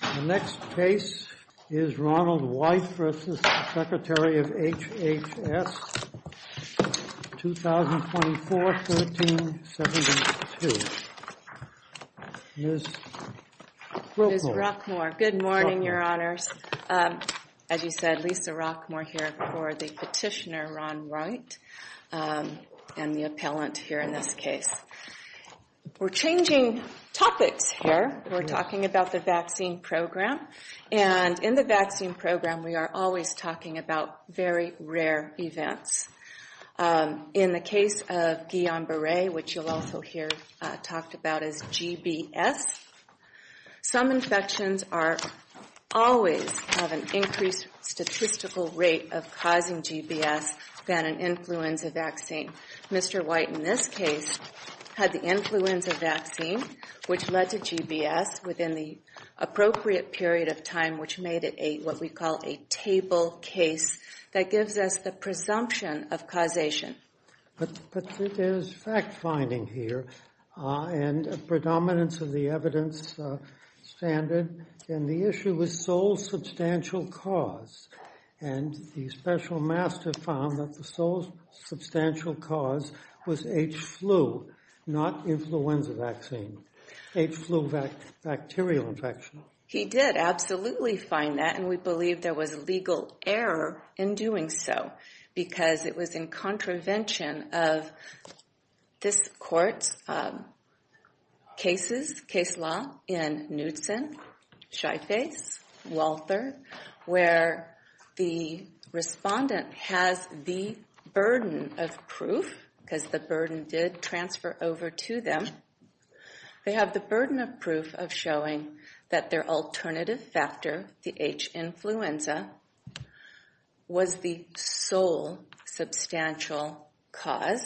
The next case is Ronald White v. Secretary of HHS, 2024-1372. Ms. Roquemore. Ms. Roquemore. Good morning, Your Honors. As you said, Lisa Roquemore here for the petitioner, Ron White, and the appellant here in this case. We're changing topics here. We're talking about the vaccine program. And in the vaccine program, we are always talking about very rare events. In the case of Guillain-Barre, which you'll also hear talked about as GBS, some infections are always have an increased statistical rate of causing GBS than an influenza vaccine. Mr. White, in this case, had the influenza vaccine, which led to GBS within the appropriate period of time, which made it a what we call a table case that gives us the presumption of causation. But there's fact-finding here and a predominance of the evidence standard. And the issue was sole substantial cause. And the special master found that the sole substantial cause was H-flu, not influenza vaccine. H-flu bacterial infection. He did absolutely find that, and we believe there was legal error in doing so because it was in contravention of this court's cases, case law, in Knudsen, Shyface, Walther, where the respondent has the burden of proof because the burden did transfer over to them. They have the burden of proof of showing that their alternative factor, the H-influenza, was the sole substantial cause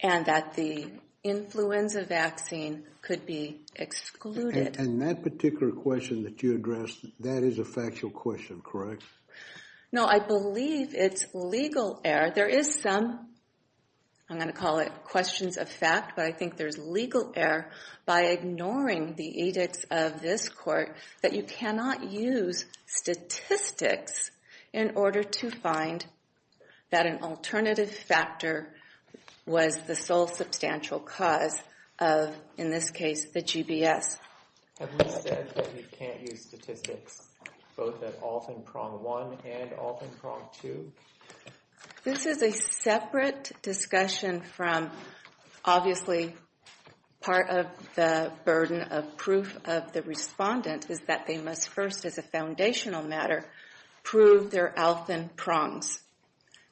and that the influenza vaccine could be excluded. And that particular question that you addressed, that is a factual question, correct? No, I believe it's legal error. There is some, I'm going to call it questions of fact, but I think there's legal error by ignoring the edicts of this court that you cannot use statistics in order to find that an alternative factor was the sole substantial cause of, in this case, the GBS. Have you said that you can't use statistics both at ALF and PRONG-1 and ALF and PRONG-2? This is a separate discussion from, obviously, part of the burden of proof of the respondent is that they must first, as a foundational matter, prove their ALF and PRONGs.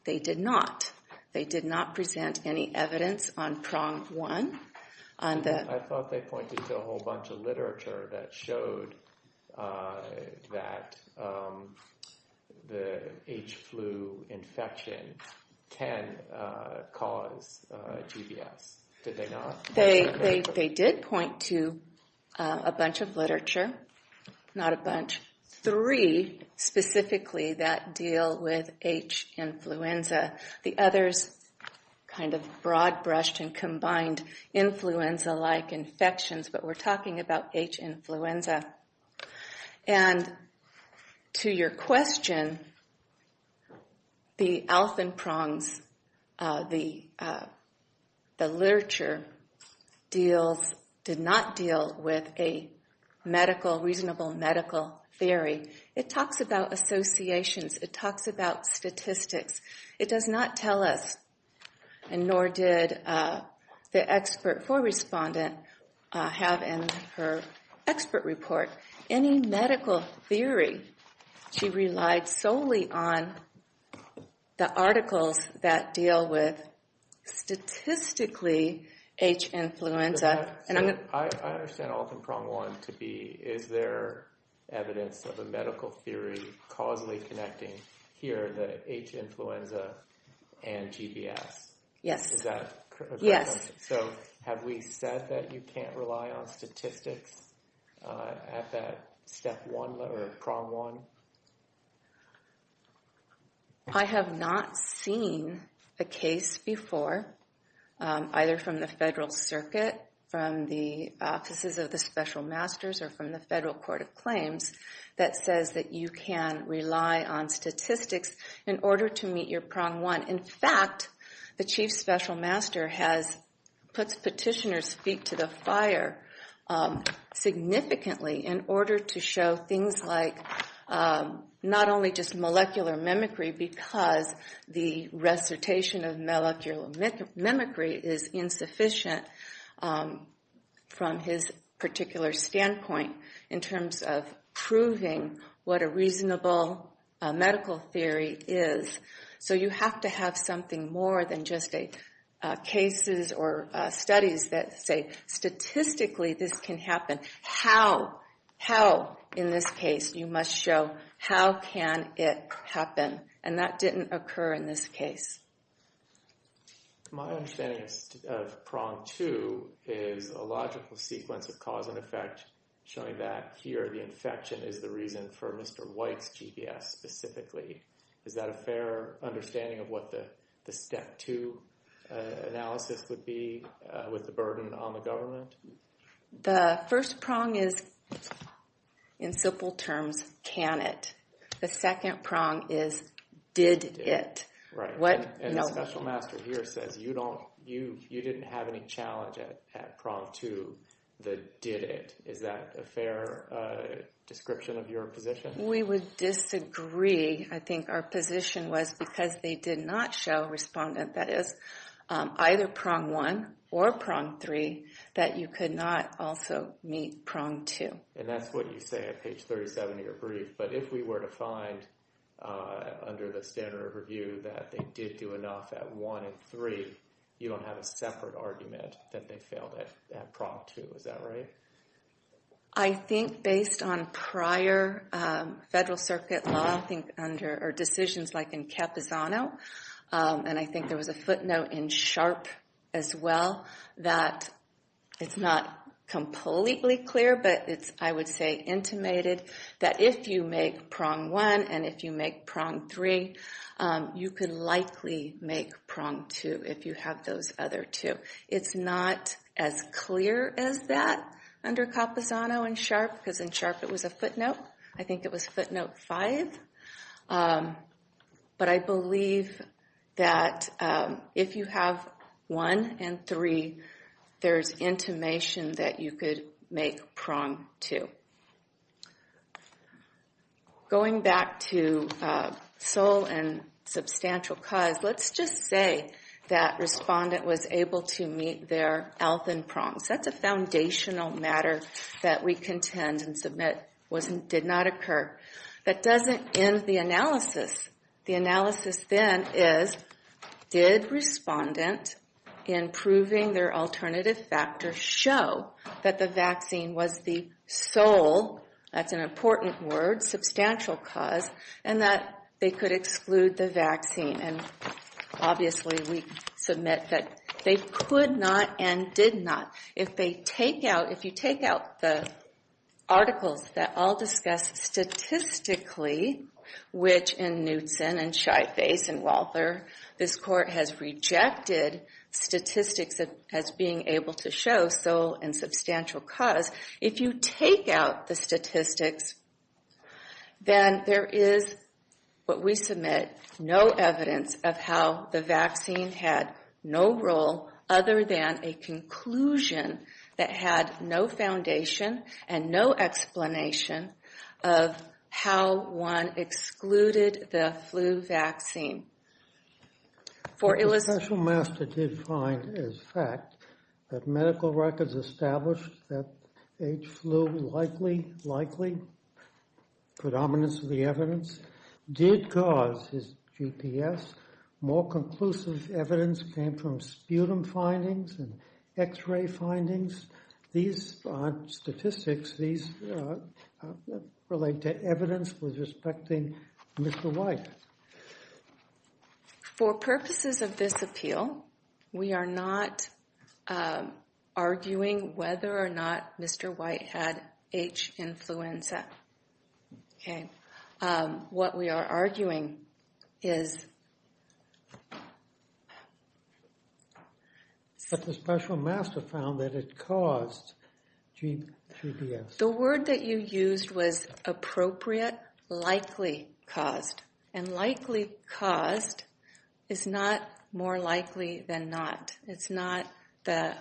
They did not. They did not present any evidence on PRONG-1 on the... I thought they pointed to a whole bunch of literature that showed that the H-flu infection can cause GBS. Did they not? They did point to a bunch of literature, not a bunch, three specifically that deal with H-influenza. The others kind of broad-brushed and combined influenza-like infections, but we're talking about H-influenza. And to your question, the ALF and PRONGs, the literature, did not deal with a reasonable medical theory. It talks about associations. It talks about statistics. It does not tell us, and nor did the expert for respondent have in her expert report, any medical theory. She relied solely on the articles that deal with statistically H-influenza. I understand ALF and PRONG-1 to be, is there evidence of a medical theory causally connecting here the H-influenza and GBS? Is that correct? Yes. So have we said that you can't rely on statistics at that step one or PRONG-1? I have not seen a case before, either from the federal circuit, from the offices of the special masters, or from the federal court of claims, that says that you can rely on statistics in order to meet your PRONG-1. In fact, the chief special master has put petitioner's feet to the fire significantly in order to show things like not only just molecular mimicry, because the recitation of molecular mimicry is insufficient from his particular standpoint in terms of proving what a reasonable medical theory is. So you have to have something more than just cases or studies that say statistically this can happen. How, how in this case you must show how can it happen? And that didn't occur in this case. My understanding of PRONG-2 is a logical sequence of cause and effect showing that here the infection is the reason for Mr. White's GBS specifically. Is that a fair understanding of what the step two analysis would be with the burden on the government? The first PRONG is, in simple terms, can it? The second PRONG is, did it? Right. And the special master here says you don't, you didn't have any challenge at PRONG-2 that did it. Is that a fair description of your position? We would disagree. I think our position was because they did not show, respondent that is, either PRONG-1 or PRONG-3, that you could not also meet PRONG-2. And that's what you say at page 37 of your brief. But if we were to find, under the standard of review, that they did do enough at one and three, you don't have a separate argument that they failed at PRONG-2. Is that right? I think based on prior Federal Circuit law, I think under, or decisions like in Capizano, and I think there was a footnote in Sharp as well, that it's not completely clear, but it's, I would say, intimated that if you make PRONG-1 and if you make PRONG-3, you could likely make PRONG-2 if you have those other two. It's not as clear as that under Capizano and Sharp, because in Sharp it was a footnote. I think it was footnote five. But I believe that if you have one and three, there's intimation that you could make PRONG-2. Going back to sole and substantial cause, let's just say that respondent was able to meet their health in PRONGs. That's a foundational matter that we contend and submit did not occur. That doesn't end the analysis. The analysis then is, did respondent, in proving their alternative factor, show that the vaccine was the sole, that's an important word, substantial cause, and that they could exclude the vaccine? Obviously, we submit that they could not and did not. If they take out, if you take out the articles that all discuss statistically, which in Knutson and Scheibace and Walther, this Court has rejected statistics as being able to show sole and substantial cause. If you take out the statistics, then there is what we submit, no evidence of how the vaccine had no role other than a conclusion that had no foundation and no explanation of how one excluded the flu vaccine. But the special master did find as fact that medical records established that H. flu likely, likely, predominance of the evidence, did cause his GPS. More conclusive evidence came from sputum findings and x-ray findings. These aren't statistics, these relate to evidence with respecting Mr. White. For purposes of this appeal, we are not arguing whether or not Mr. White had H. influenza. Okay. What we are arguing is... But the special master found that it caused GPS. The word that you used was appropriate, likely, caused. And likely caused is not more likely than not. It's not the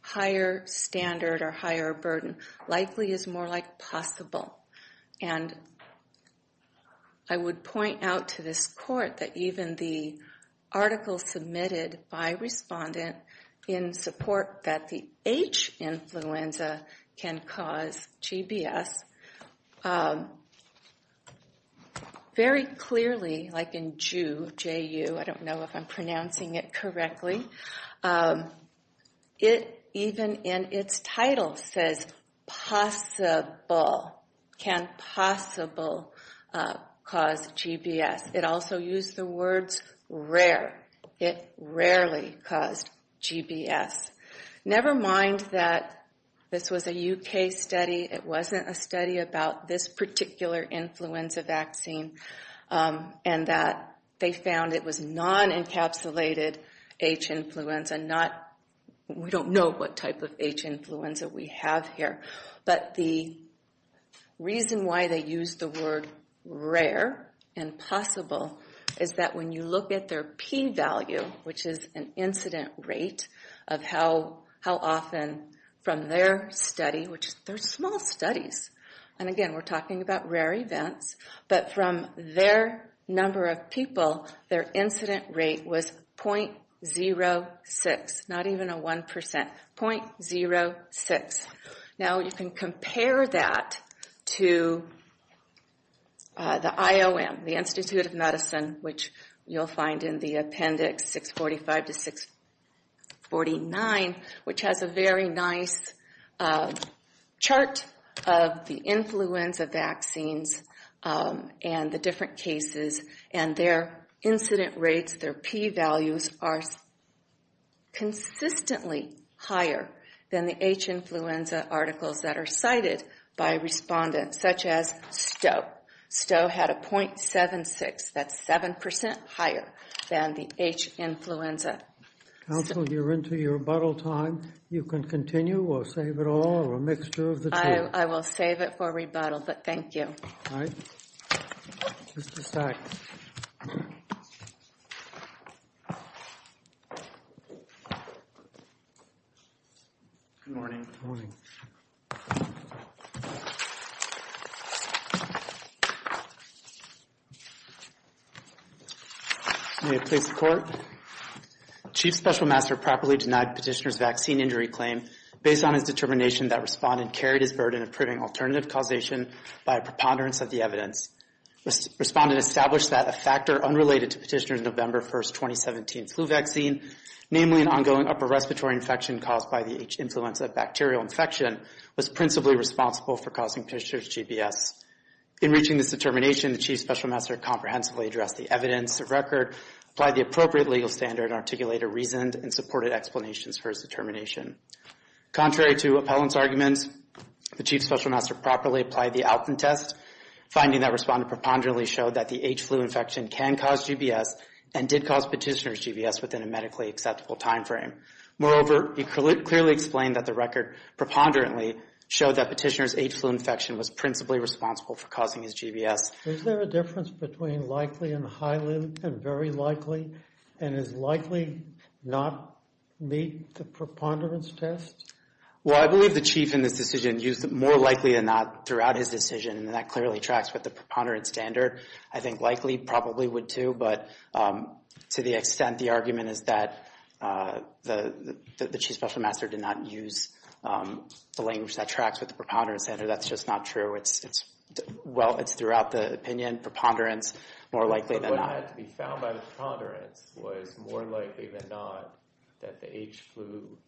higher standard or higher burden. Likely is more like possible. And I would point out to this Court that even the article submitted by respondent in support that the H. influenza can cause GPS, very clearly, like in Jew, J-U, I don't know if I'm pronouncing it properly, likely, possibly, possibly, possible, cause GPS. It also used the words rare. It rarely caused GPS. Never mind that this was a U.K. study. It wasn't a study about this particular influenza vaccine and that they found it was non-encapsulated H. influenza. We don't know what type of H. influenza we have here. But the reason why they used the word rare and possible is that when you look at their p-value, which is an incident rate, of how often from their study, which they're small studies, and again we're talking about rare events, but from their number of people, their incident rate was .06, not even a one percent, .001, which is a very small number. .06. Now you can compare that to the IOM, the Institute of Medicine, which you'll find in the appendix 645 to 649, which has a very nice chart of the influenza vaccines and the different cases, and their incident rates, their p-values are consistently higher than the H. influenza articles that are cited by respondents, such as STO. STO had a .76. That's seven percent higher than the H. influenza. Counsel, you're into your rebuttal time. You can continue or save it all or a mixture of the two. I will save it for rebuttal, but thank you. All right. Mr. Stein. Good morning. Morning. May it please the Court. Chief Special Master properly denied petitioner's vaccine injury claim based on his determination that respondent carried his burden of proving alternative causation by a preponderance of the evidence. Respondent established that a factor unrelated to petitioner's November 1, 2017 flu vaccine, namely an ongoing upper respiratory infection caused by the H. influenza bacterial infection, was principally responsible for causing petitioner's GBS. In reaching this determination, the Chief Special Master comprehensively addressed the evidence, the record, applied the appropriate legal standard, and articulated reasoned and supported explanations for his determination. Contrary to appellant's arguments, the Chief Special Master properly applied the outcome test, finding that respondent preponderantly showed that the H. flu infection can cause GBS and did cause petitioner's GBS within a medically acceptable timeframe. Moreover, he clearly explained that the record preponderantly showed that petitioner's H. flu infection was principally responsible for causing his GBS. Is there a difference between likely and highly and very likely and is likely not meet the preponderance test? Well, I believe the Chief in this decision used more likely than not throughout his decision and that clearly tracks with the preponderance standard. I think likely probably would too, but to the extent the argument is that the Chief Special Master did not use the language that tracks with the preponderance standard, that's just not true. Well, it's throughout the opinion, preponderance, more likely than not. But what had to be found by the preponderance was more likely than not that the H. flu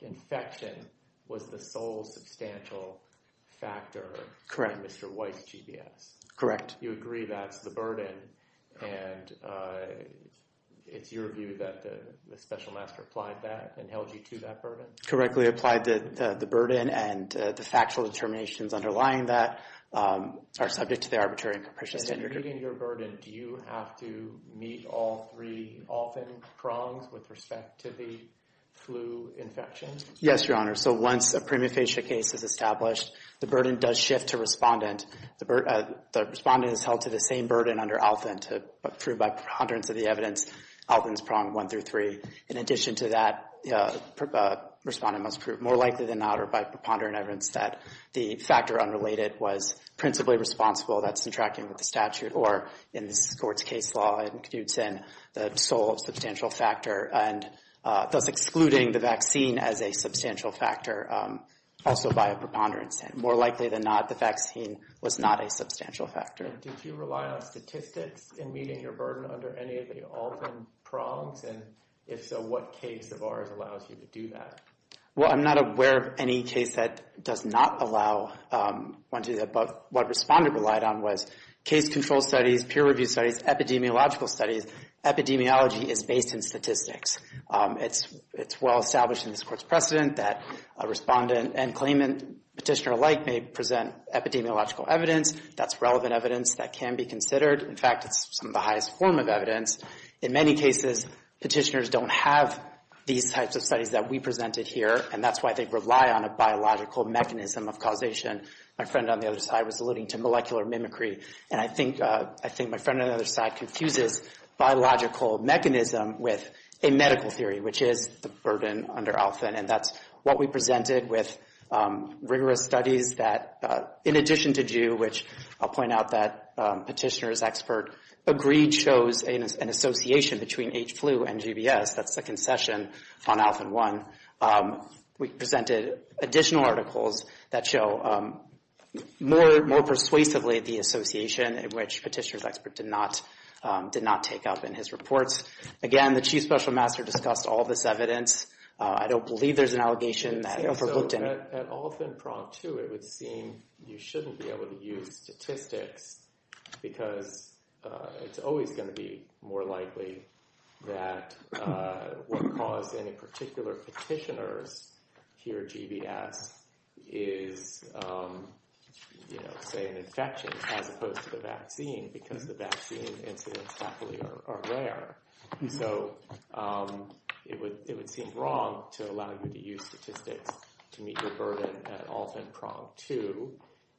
infection was the sole substantial factor in Mr. White's GBS. Correct. You agree that's the burden and it's your view that the Special Master applied that and held you to that burden? Correctly applied that the burden and the factual determinations underlying that are subject to the arbitrary and capricious standard. And in meeting your burden, do you have to meet all three ALFIN prongs with respect to the flu infections? Yes, Your Honor. So once a primifacia case is established, the burden does shift to respondent. The respondent is held to the same burden under ALFIN to prove by preponderance of the evidence, ALFIN's prong one through three. In addition to that, respondent must prove more likely than not or by preponderant evidence that the factor unrelated was principally responsible. That's in tracking with the statute or in this court's case law, it includes in the sole substantial factor and thus excluding the vaccine as a substantial factor. Also by a preponderance and more likely than not, the vaccine was not a substantial factor. And did you rely on statistics in meeting your burden under any of the ALFIN prongs? And if so, what case of ours allows you to do that? Well, I'm not aware of any case that does not allow one to do that. But what respondent relied on was case control studies, peer review studies, epidemiological studies. Epidemiology is based in statistics. It's well established in this court's precedent that a respondent and claimant petitioner alike may present epidemiological evidence. That's relevant evidence that can be considered. In fact, it's some of the highest form of evidence. In many cases, petitioners don't have these types of studies that we presented here, and that's why they rely on a biological mechanism of causation. My friend on the other side was alluding to molecular mimicry. And I think my friend on the other side confuses biological mechanism with a medical theory, which is the burden under ALFIN. And that's what we presented with rigorous studies that, in addition to GUE, which I'll point out that petitioner's expert agreed shows an association between H. flu and GBS. That's the concession on ALFIN 1. We presented additional articles that show more persuasively the association in which petitioner's expert did not take up in his reports. Again, the chief special master discussed all this evidence. I don't believe there's an allegation that ALFIN looked into. At ALFIN Prompt 2, it would seem you shouldn't be able to use statistics because it's always going to be more likely that what caused any particular petitioners hear GBS is, say, an infection, as opposed to the vaccine, because the vaccine incidents happily are rare. So it would seem wrong to allow you to use statistics to meet your burden at ALFIN Prompt 2.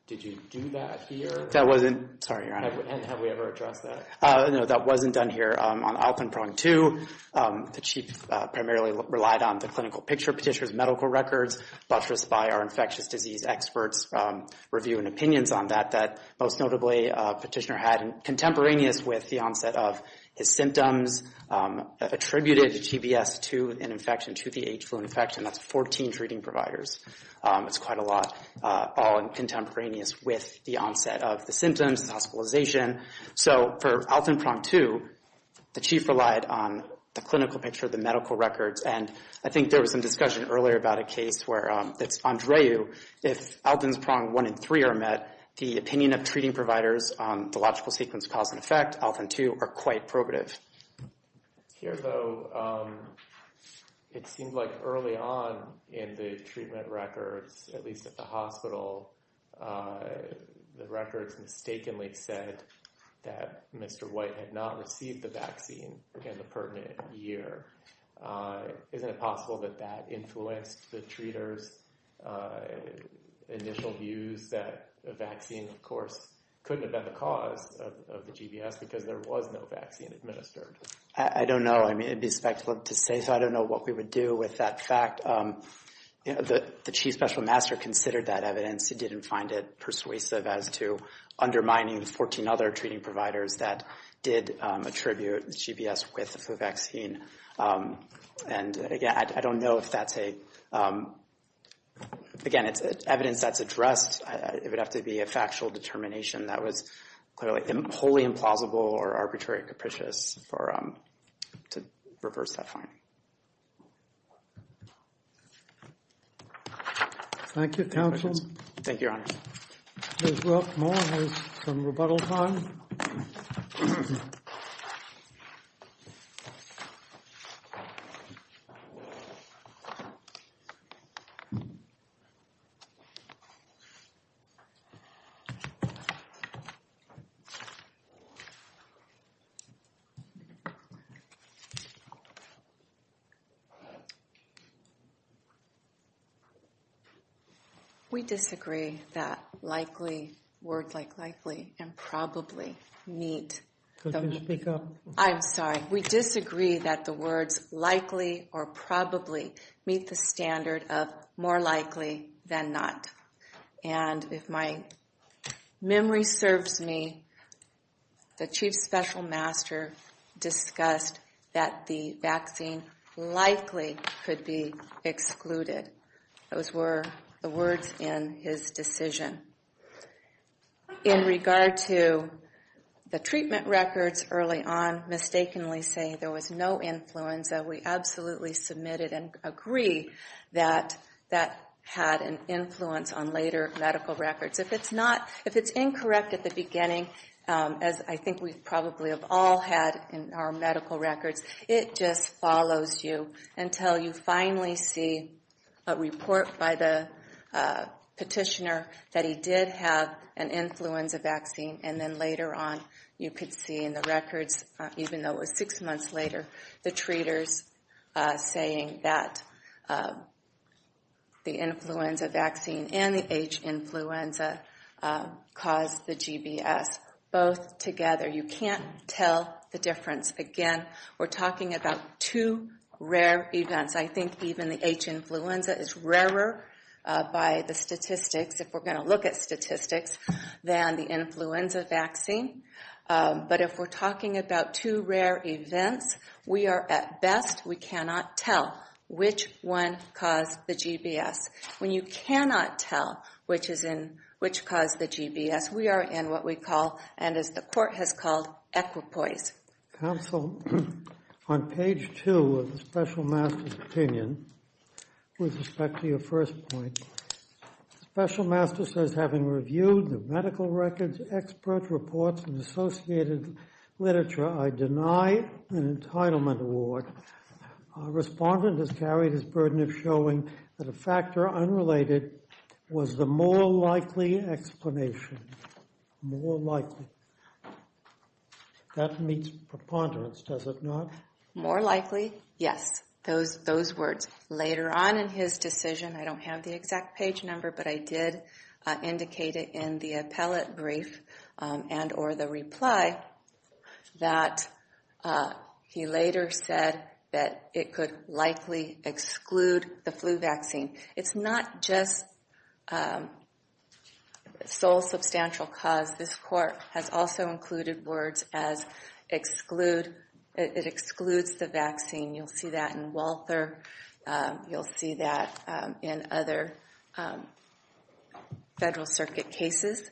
Did you do that here? That wasn't— Sorry, your honor. Have we ever addressed that? No, that wasn't done here. On ALFIN Prompt 2, the chief primarily relied on the clinical picture, petitioner's medical records, buttressed by our infectious disease experts' review and opinions on that. Most notably, petitioner had contemporaneous with the onset of his symptoms attributed to GBS to an infection, to the H. flu infection. That's 14 treating providers. It's quite a lot, all contemporaneous with the onset of the symptoms, the hospitalization. So for ALFIN Prompt 2, the chief relied on the clinical picture, the medical records. And I think there was some discussion earlier about a case where it's Andreu. If ALFIN Prompt 1 and 3 are met, the opinion of treating providers on the logical sequence of cause and effect, ALFIN 2, are quite probative. Here, though, it seems like early on in the treatment records, at least at the hospital, the records mistakenly said that Mr. White had not received the vaccine in the pertinent year. Isn't it possible that that influenced the treaters' initial views that the vaccine, of course, couldn't have been the cause of the GBS because there was no vaccine administered? I don't know. I mean, it'd be speculative to say, so I don't know what we would do with that fact. The chief special master considered that evidence. He didn't find it persuasive as to undermining the 14 other treating providers that did attribute the GBS with the vaccine. And, again, I don't know if that's a, again, it's evidence that's addressed. It would have to be a factual determination that was clearly wholly implausible or arbitrarily capricious to reverse that finding. Thank you, counsel. Thank you, Your Honors. Ms. Rothmuller has some rebuttal time. We disagree that likely, word like likely, and probably meet. Could you speak up? I'm sorry. We disagree that the words likely or probably meet the standard of more likely than not. And if my memory serves me, the chief special master discussed that the vaccine likely could be excluded. Those were the words in his decision. In regard to the treatment records, early on, mistakenly saying there was no influenza, we absolutely submitted and agree that that had an influence on later medical records. If it's not, if it's incorrect at the beginning, as I think we probably have all had in our medical records, it just follows you until you finally see a report by the petitioner that he did have an influenza vaccine. And then later on, you could see in the records, even though it was six months later, the treaters saying that the influenza vaccine and the H influenza caused the GBS, both together. You can't tell the difference. Again, we're talking about two rare events. I think even the H influenza is rarer by the statistics, if we're going to look at statistics, than the influenza vaccine. But if we're talking about two rare events, we are at best, we cannot tell which one caused the GBS. When you cannot tell which caused the GBS, we are in what we call, and as the court has called, equipoise. Counsel, on page two of the special master's opinion, with respect to your first point, the special master says, having reviewed the medical records, expert reports, and associated literature, I deny an entitlement award. Our respondent has carried his burden of showing that a factor unrelated was the more likely explanation. More likely. That meets preponderance, does it not? More likely, yes. Those words. Later on in his decision, I don't have the exact page number, but I did indicate it in the appellate brief and or the reply that he later said that it could likely exclude the flu vaccine. It's not just sole substantial cause. This court has also included words as exclude, it excludes the vaccine. You'll see that in Walther. You'll see that in other Federal Circuit cases.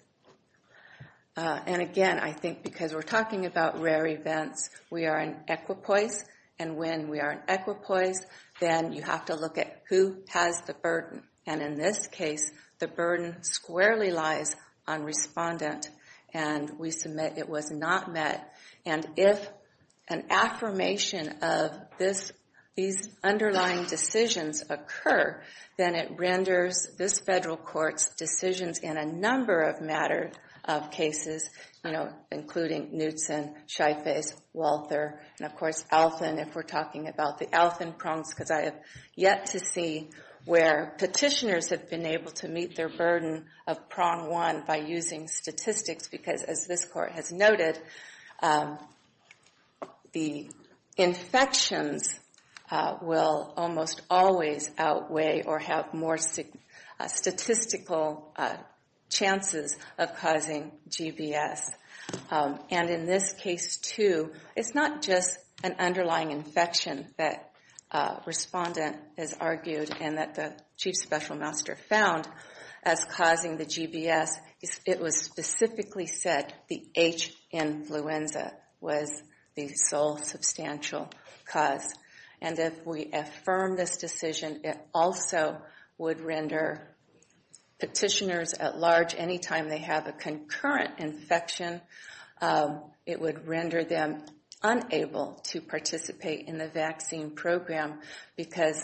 And again, I think because we're talking about rare events, we are in equipoise. And when we are in equipoise, then you have to look at who has the burden. And in this case, the burden squarely lies on respondent. And we submit it was not met. And if an affirmation of these underlying decisions occur, then it renders this Federal Court's decisions in a number of matter of cases, you know, including Knutson, Scheifez, Walther, and, of course, Alfin. If we're talking about the Alfin prongs, because I have yet to see where petitioners have been able to meet their burden of prong one by using statistics because, as this court has noted, the infections will almost always outweigh or have more statistical chances of causing GBS. And in this case, too, it's not just an underlying infection that respondent has argued and that the Chief Special Master found as causing the GBS. It was specifically said the H influenza was the sole substantial cause. And if we affirm this decision, it also would render petitioners at large, any time they have a concurrent infection, it would render them unable to participate in the vaccine program because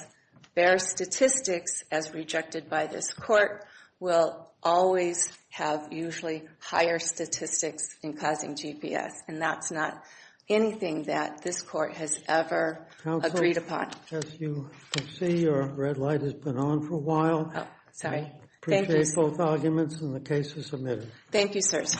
their statistics, as rejected by this court, will always have usually higher statistics in causing GBS. And that's not anything that this court has ever agreed upon. Counsel, as you can see, your red light has been on for a while. Oh, sorry. Thank you. Appreciate both arguments, and the case is submitted. Thank you, sirs.